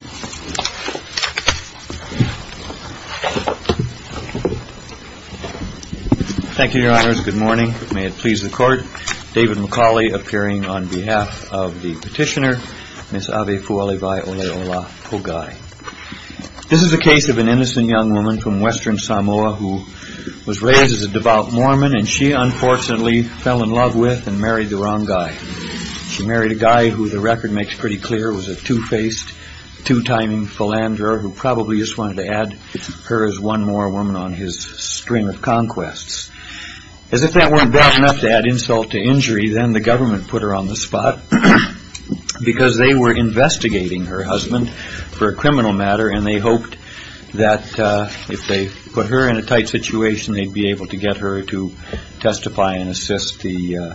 This is a case of an innocent young woman from western Samoa who was raised as a devout Mormon and she unfortunately fell in love with and married the wrong guy. She married a guy who the record makes pretty clear was a two-faced, two-timing philanderer who probably just wanted to add her as one more woman on his string of conquests. As if that weren't bad enough to add insult to injury, then the government put her on the spot because they were investigating her husband for a criminal matter and they hoped that if they put her in a tight situation, they'd be able to get her to testify and assist the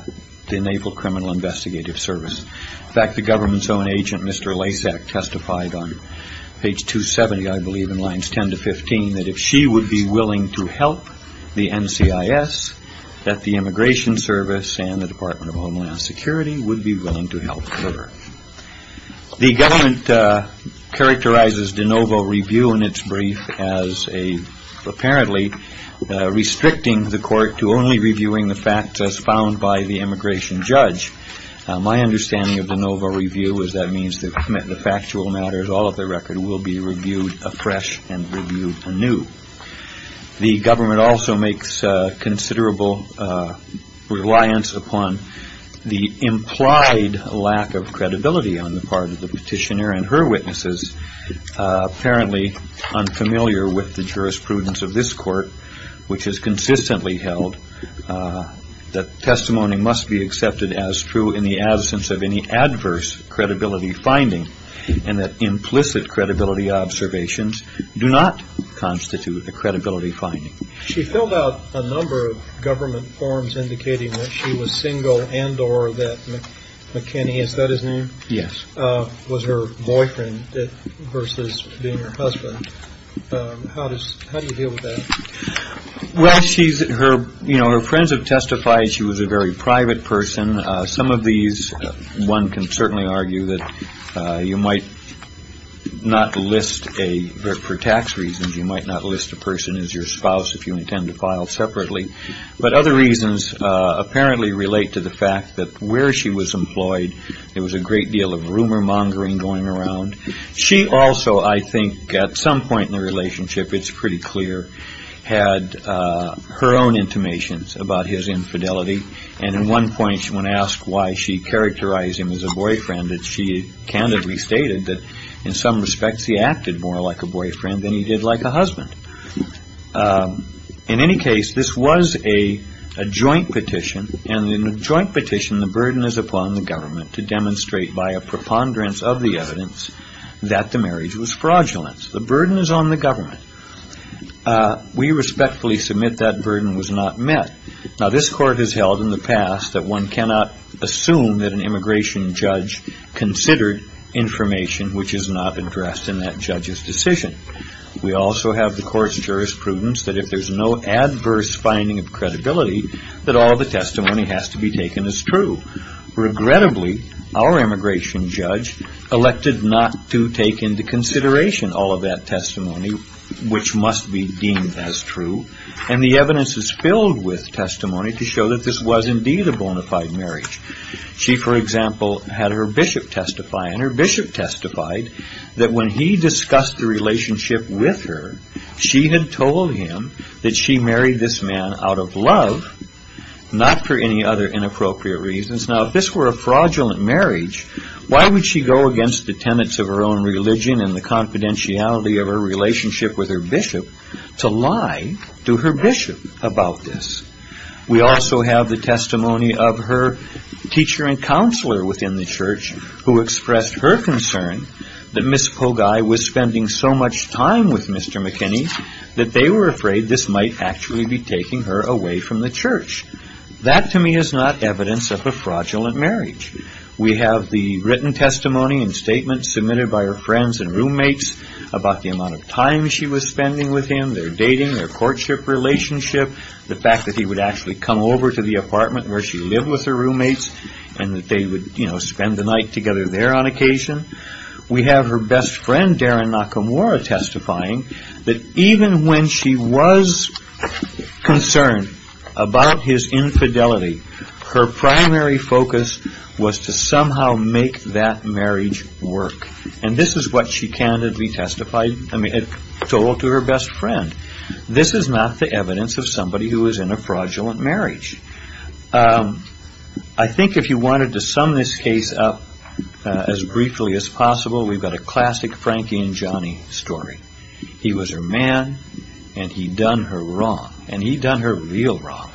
Naval Criminal Investigative Service. In fact, the government's own agent, Mr. Lacek, testified on page 270, I believe, in lines 10 to 15 that if she would be willing to help the NCIS, that the Immigration Service and the Department of Homeland Security would be willing to help her. The government characterizes de novo review in its brief as apparently restricting the court to only My understanding of de novo review is that means the factual matters, all of the record, will be reviewed afresh and reviewed anew. The government also makes considerable reliance upon the implied lack of credibility on the part of the petitioner and her witnesses. Apparently unfamiliar with the jurisprudence of this court, which is consistently held, that testimony must be accepted as true in the absence of any adverse credibility finding and that implicit credibility observations do not constitute a credibility finding. She filled out a number of government forms indicating that she was single and or that McKinney, is that his name? Yes. Was her boyfriend versus being her husband. How do you deal with that? Well, her friends have testified she was a very private person. Some of these, one can certainly argue that you might not list, for tax reasons, you might not list a person as your spouse if you intend to file separately. But other reasons apparently relate to the fact that where she was employed, there was a great deal of rumor mongering going around. She also, I think, at some point in the relationship, it's pretty clear, had her own intimations about his infidelity. And at one point, when asked why she characterized him as a boyfriend, she candidly stated that in some respects he acted more like a boyfriend than he did like a husband. In any case, this was a joint petition. And in a joint petition, the burden is upon the government to demonstrate by a preponderance of the evidence that the marriage was fraudulent. The burden is on the government. We respectfully submit that burden was not met. Now, this court has held in the past that one cannot assume that an immigration judge considered information which is not addressed in that judge's decision. We also have the court's jurisprudence that if there's no adverse finding of credibility, that all the testimony has to be taken as true. Regrettably, our immigration judge elected not to take into consideration all of that testimony which must be deemed as true. And the evidence is filled with testimony to show that this was indeed a bona fide marriage. She, for example, had her bishop testify. And her bishop testified that when he discussed the relationship with her, she had told him that she married this man out of love, not for any other inappropriate reasons. Now, if this were a fraudulent marriage, why would she go against the tenets of her own religion and the confidentiality of her relationship with her bishop to lie to her bishop about this? We also have the testimony of her teacher and counselor within the church who expressed her concern that Miss Pogai was spending so much time with Mr. McKinney that they were afraid this might actually be taking her away from the church. That to me is not evidence of a fraudulent marriage. We have the written testimony and statements submitted by her friends and roommates about the amount of time she was spending with him, their dating, their courtship relationship, the fact that he would actually come over to the apartment where she lived with her roommates and that they would spend the night together there on occasion. We have her best friend, Darren Nakamura, testifying that even when she was concerned about his infidelity, her primary focus was to somehow make that marriage work. And this is what she candidly testified and told to her best friend. This is not the evidence of somebody who was in a fraudulent marriage. I think if you wanted to sum this case up as briefly as possible, we've got a classic Frankie and Johnny story. He was her man and he'd done her wrong. And he'd done her real wrong.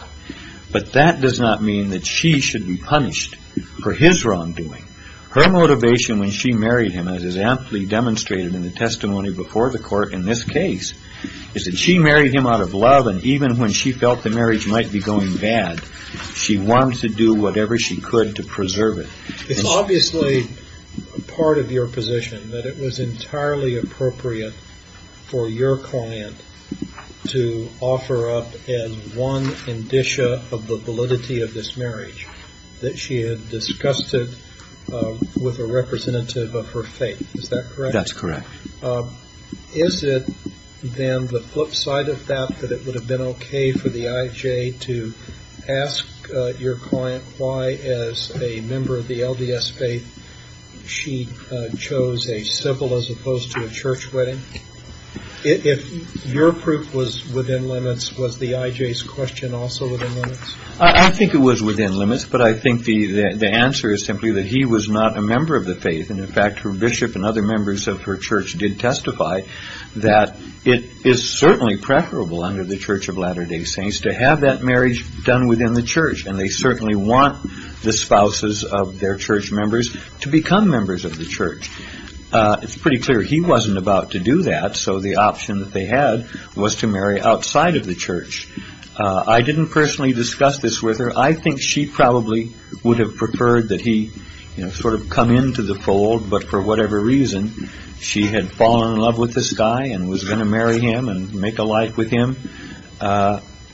But that does not mean that she should be punished for his wrongdoing. Her motivation when she married him, as is a lot of love, and even when she felt the marriage might be going bad, she wanted to do whatever she could to preserve it. It's obviously part of your position that it was entirely appropriate for your client to offer up as one indicia of the validity of this marriage that she had disgusted with a representative of her faith. Is that correct? That's correct. Is it then the flip side of that that it would have been okay for the I.J. to ask your client why as a member of the LDS faith she chose a civil as opposed to a church wedding? If your proof was within limits, was the I.J.'s question also within limits? I think it was within limits. But I think the answer is simply that he was not a member of the faith. And in fact, her bishop and other members of her church did testify that it is certainly preferable under the Church of Latter Day Saints to have that marriage done within the church. And they certainly want the spouses of their church members to become members of the church. It's pretty clear he wasn't about to do that. So the option that they had was to marry outside of the church. I didn't personally discuss this with her. I think she probably would have preferred that he sort of come into the fold. But for whatever reason, she had fallen in love with this guy and was going to marry him and make a life with him,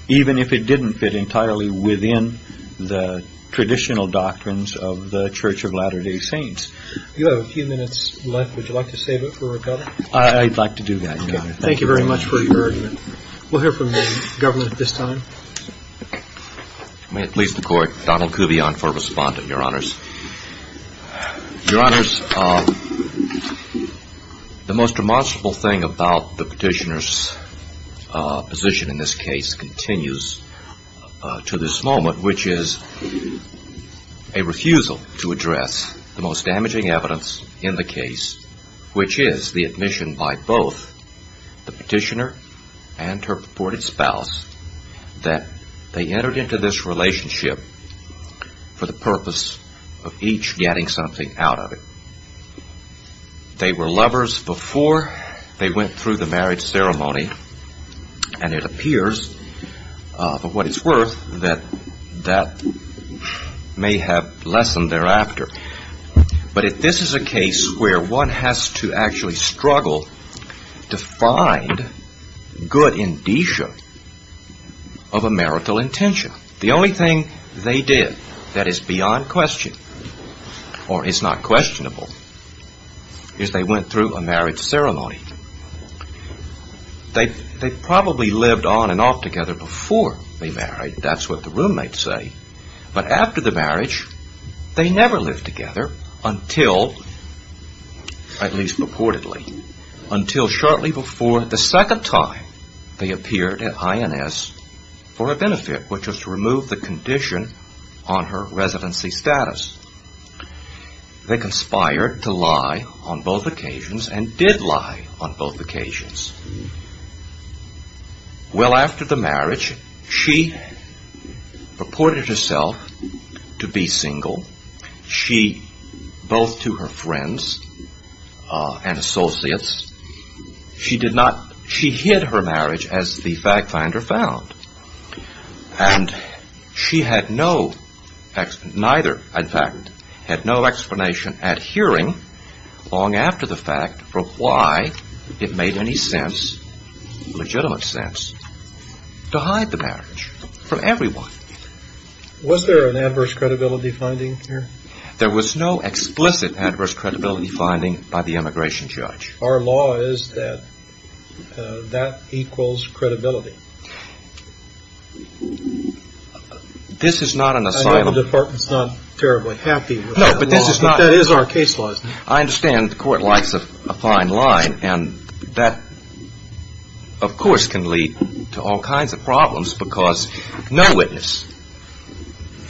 even if it didn't fit entirely within the traditional doctrines of the Church of Latter Day Saints. You have a few minutes left. Would you like to save it for recovery? I'd like to do that. Thank you very much for your argument. We'll hear from the government at this time. May it please the Court, Donald Kubion for a respondent, Your Honors. Your Honors, the most remonstrable thing about the petitioner's position in this case continues to this moment, which is a refusal to address the most damaging evidence in the case, which is the admission by both the petitioner and her purported spouse that they entered into this relationship for the purpose of each getting something out of it. They were lovers before they went through the marriage ceremony, and it appears, for what it's worth, that that may have lessened thereafter. But if this is a case where one has to actually struggle to find good indicia of a marital intention, the only thing they did that is beyond question, or is not questionable, is they went through a marriage ceremony. They probably lived on and off together before they married. That's what the roommate said. But after the marriage, they never lived together until, at least purportedly, until shortly before the second time they appeared at INS for a benefit, which was to remove the condition on her residency status. They conspired to lie on both occasions, and did lie on both occasions. Well, after the marriage, shortly after, she purported herself to be single. She, both to her friends and associates, she did not, she hid her marriage as the fact finder found. And she had no, neither, in fact, had no explanation at hearing long after the fact for why it made any sense, legitimate sense, to hide the marriage from everyone. Was there an adverse credibility finding here? There was no explicit adverse credibility finding by the immigration judge. Our law is that that equals credibility. This is not an asylum. I know the department's not terribly happy with that law. No, but this is not. But that is our case law. I understand the of course can lead to all kinds of problems, because no witness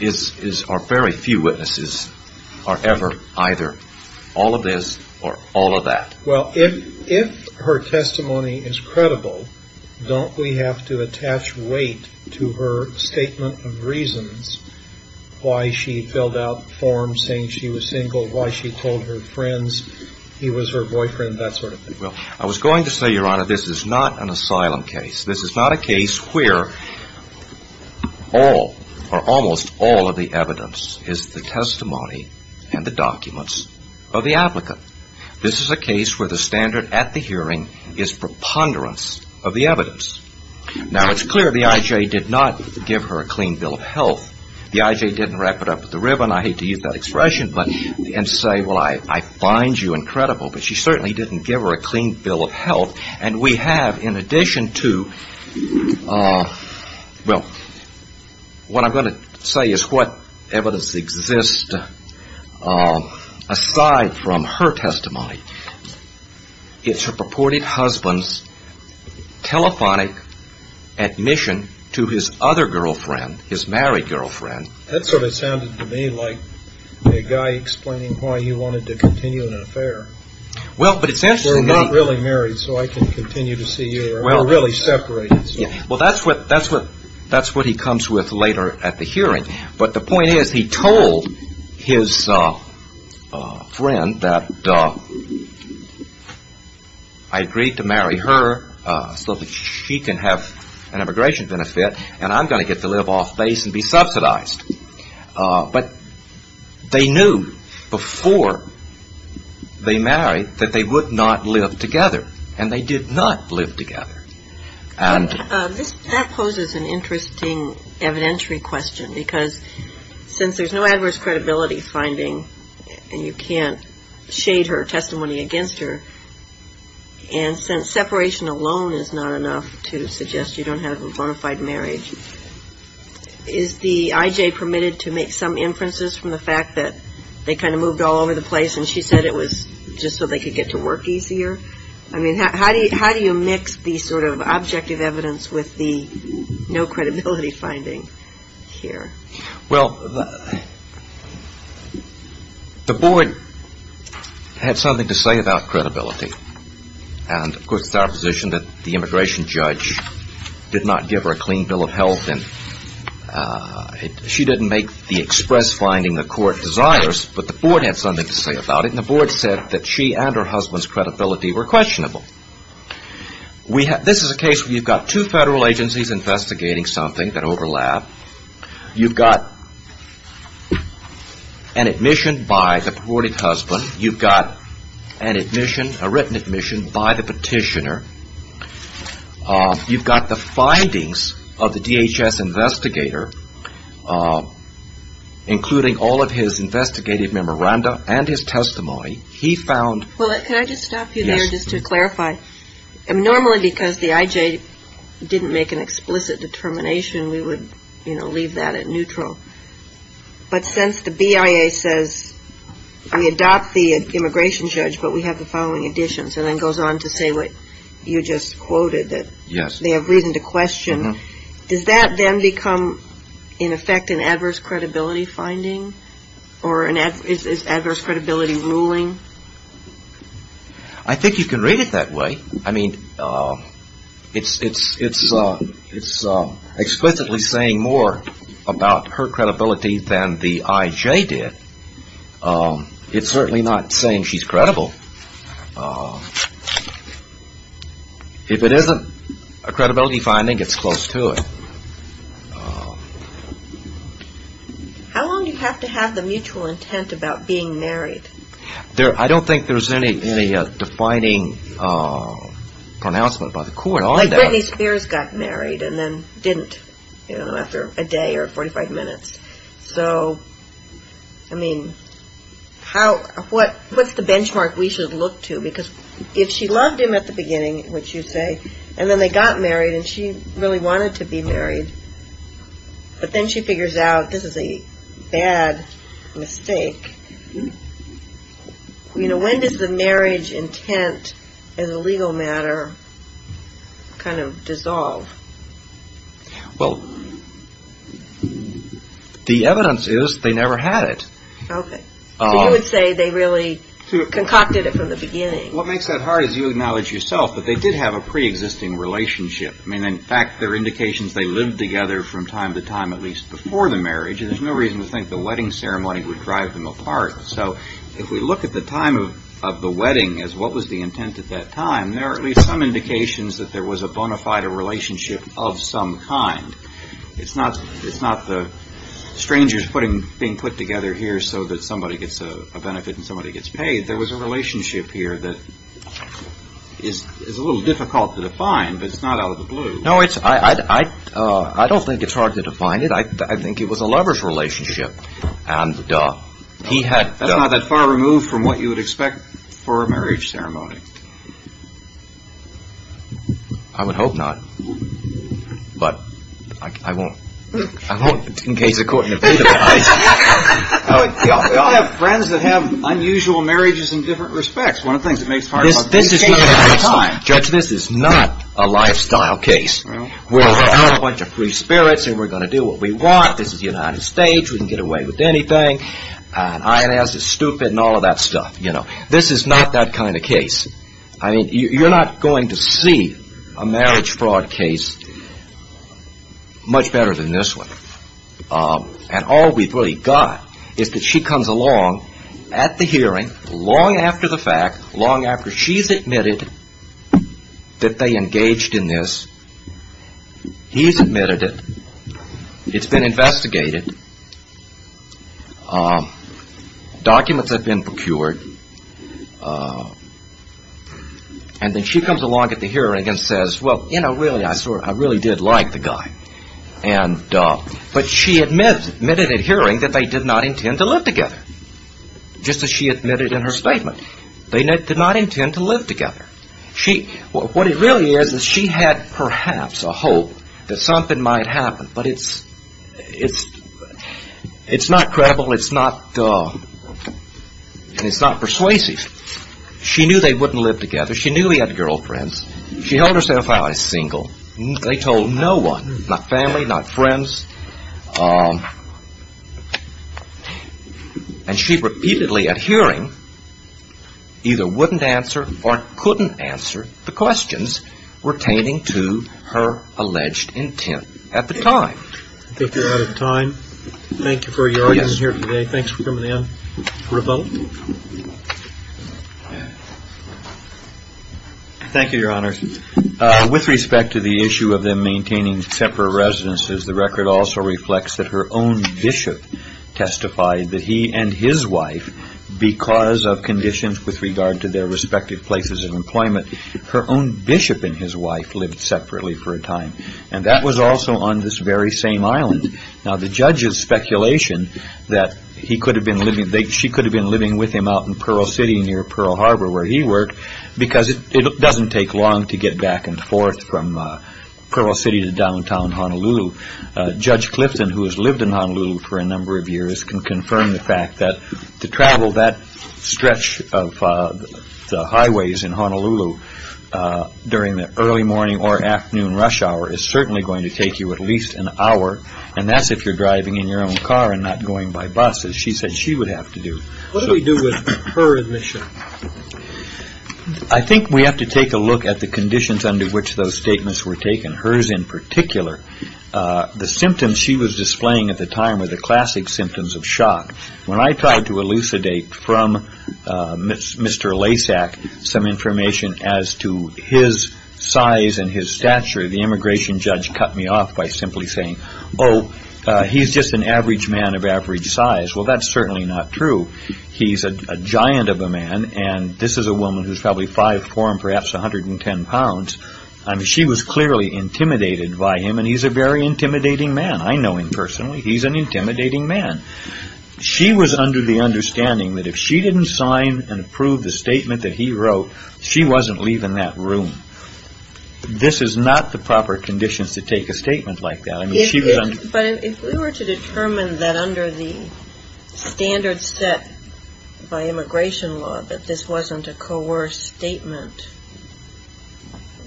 is, or very few witnesses are ever either all of this or all of that. Well, if her testimony is credible, don't we have to attach weight to her statement of reasons why she filled out forms saying she was single, why she told her friends he was her boyfriend, that sort of thing? Well, I was going to say, Your Honor, this is not an asylum case. This is not a case where all or almost all of the evidence is the testimony and the documents of the applicant. This is a case where the standard at the hearing is preponderance of the evidence. Now, it's clear the I.J. did not give her a clean bill of health. The I.J. didn't wrap it up at the ribbon, I hate to use that expression, and say, well, I find you incredible. But she certainly didn't give her a clean bill of health. And we have in addition to, well, what I'm going to say is what evidence exists aside from her testimony. It's her purported husband's telephonic admission to his other girlfriend, his married girlfriend. That sort of sounded to me like a guy explaining why he wanted to continue an affair. Well, but it sounds to me We're not really married, so I can continue to see you. We're really separated. Well, that's what he comes with later at the hearing. But the point is he told his friend that I agreed to marry her so that she can have an immigration benefit, and I'm going to get to live off base and be subsidized. But they knew before they married that they would not live together, and they did not live together. That poses an interesting evidentiary question, because since there's no adverse credibility finding, and you can't shade her testimony against her, and since separation alone is not enough to suggest you don't have a bona fide marriage, is the I.J. permitted to make some inferences from the fact that they kind of moved all over the place and she said it was just so they could get to work easier? I mean, how do you mix the sort of objective evidence with the no credibility finding here? Well, the board had something to say about credibility. And, of course, it's our position that the immigration judge did not give her a clean bill of health, and she didn't make the express finding the court desires. But the board had something to say about it, and the board said that she and her husband's credibility were questionable. This is a case where you've got two federal agencies investigating something that overlap. You've got an admission by the purported husband. You've got an admission, a written admission by the petitioner. You've got the findings of the DHS investigator, including all of his investigative memoranda and his testimony. He found Well, can I just stop you there just to clarify. Normally, because the I.J. didn't make an explicit determination, we would leave that at neutral. But since the BIA says we adopt the immigration judge, but we have the following additions, and then goes on to say what you just quoted, that they have reason to question, does that then become, in effect, an adverse credibility finding? Or is adverse credibility ruling? I think you can read it that way. I mean, it's explicitly saying more about her credibility than the I.J. did. It's certainly not saying she's credible. If it isn't a credibility finding, it's close to it. How long do you have to have the mutual intent about being married? I don't think there's any defining pronouncement by the court on that. Like Britney Spears got married and then didn't, you know, after a day or 45 minutes. So, I mean, how, what's the benchmark we should look to? Because if she loved him at the beginning, which you say, and then they got married and she really wanted to be married, but then she figures out this is a bad mistake, you know, when does the marriage intent as a legal matter kind of dissolve? Well, the evidence is they never had it. Okay. So you would say they really concocted it from the beginning. What makes that hard is you acknowledge yourself that they did have a pre-existing relationship. I mean, in fact, there are indications they lived together from time to time, at least before the marriage, and there's no reason to think the wedding ceremony would drive them apart. So, if we look at the time of the wedding as what was the intent at that time, there are at least some indications that there was a bona fide relationship of some kind. It's not the strangers being put together here so that somebody gets a benefit and somebody gets paid. There was a relationship here that is a little difficult to define, but it's not out of the blue. No, I don't think it's hard to define it. I think it was a lover's relationship. That's not that far removed from what you would expect for a marriage ceremony. I would hope not, but I won't. I won't, in case the court indeed applies. I have friends that have unusual marriages in different respects. One of the things that makes it hard is you can't have it all the time. Judge, this is not a lifestyle case where we're out in a bunch of free spirits and we're going to do what we want. This is the United States. We can get away with anything. I.N.S. is stupid and all of that stuff. This is not that kind of case. I mean, you're not going to see a marriage fraud case much better than this one. All we've really got is that she comes along at the hearing, long after the fact, long after she's admitted that they engaged in this. He's admitted it. It's been investigated. Documents have been procured. And then she comes along at the hearing and says, well, you know, really, I really did like the guy. But she admitted at hearing that they did not intend to live together, just as she admitted in her statement. They did not intend to live together. What it really is is she had perhaps a hope that something might happen, but it's not credible. It's not persuasive. She knew they wouldn't live together. She knew he had girlfriends. She held herself out as single. They told no one, not family, not friends. And she repeatedly at hearing either wouldn't answer or couldn't answer the questions pertaining to her alleged intent at the time. I think we're out of time. Thank you for your audience here today. Thanks for coming in. For a vote? Thank you, Your Honors. With respect to the issue of them maintaining separate residences, the record also reflects that her own bishop testified that he and his wife, because of conditions with regard to their respective places of employment, her own bishop and his wife lived separately for a time. And that was also on this very same island. Now, the judge's speculation that he could have been living, she could have been living with him out in Pearl City near Pearl Harbor, where he worked, because it doesn't take long to get back and forth from Pearl City to downtown Honolulu. Judge Clifton, who has lived in Honolulu for a number of years, can confirm the fact that to travel that stretch of highways in Honolulu during the early morning or afternoon rush hour is certainly going to take you at least an hour. And that's if you're driving in your own car and not going by bus, as she said she would have to do. What do we do with her admission? I think we have to take a look at the conditions under which those statements were taken, hers in particular. The symptoms she was displaying at the time were the classic symptoms of shock. When I tried to elucidate from Mr. Lasak some information as to his size and his stature, the immigration judge cut me off by simply saying, oh, he's just an average man of average size. Well, that's certainly not true. He's a giant of a man, and this is a woman who's probably 5'4 and perhaps 110 pounds. I mean, she was clearly intimidated by him, and he's a very intimidating man. I know him personally. He's an intimidating man. She was under the understanding that if she didn't sign and approve the statement that he wrote, she wasn't leaving that room. This is not the proper conditions to take a statement like that. But if we were to determine that under the standards set by immigration law that this wasn't a coerced statement,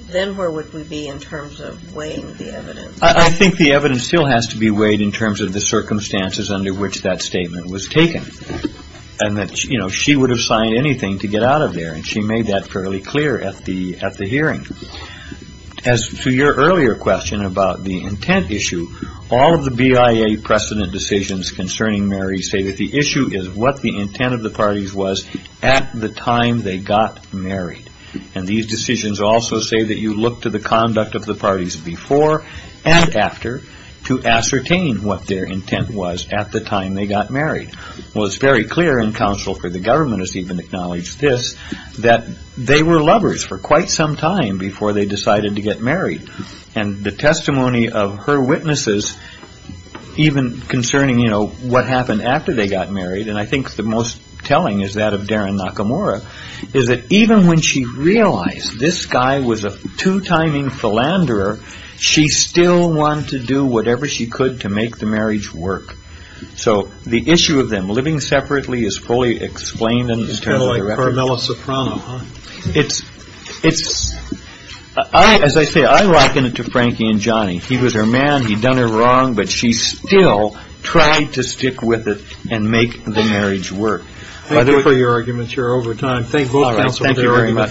then where would we be in terms of weighing the evidence? I think the evidence still has to be weighed in terms of the circumstances under which that statement was taken, and that, you know, she would have signed anything to get out of there, and she made that fairly clear at the hearing. As to your earlier question about the intent issue, all of the BIA precedent decisions concerning Mary say that the issue is what the intent of the parties was at the time they got married. And these decisions also say that you look to the conduct of the parties before and after to ascertain what their intent was at the time they got married. Well, it's very clear, and counsel for the government has even acknowledged this, that they were lovers for quite some time before they decided to get married. And the testimony of her witnesses, even concerning, you know, what happened after they got married, and I think the most telling is that of Darren Nakamura, is that even when she realized this guy was a two-timing philanderer, she still wanted to do whatever she could to make the marriage work. So the issue of them living separately is fully explained in the terms of the record. It's kind of like Carmela Soprano, huh? It's, it's, I, as I say, I rocken it to Frankie and Johnny. He was her man, he'd done her wrong, but she still tried to stick with it and make the marriage work. Thank you very much.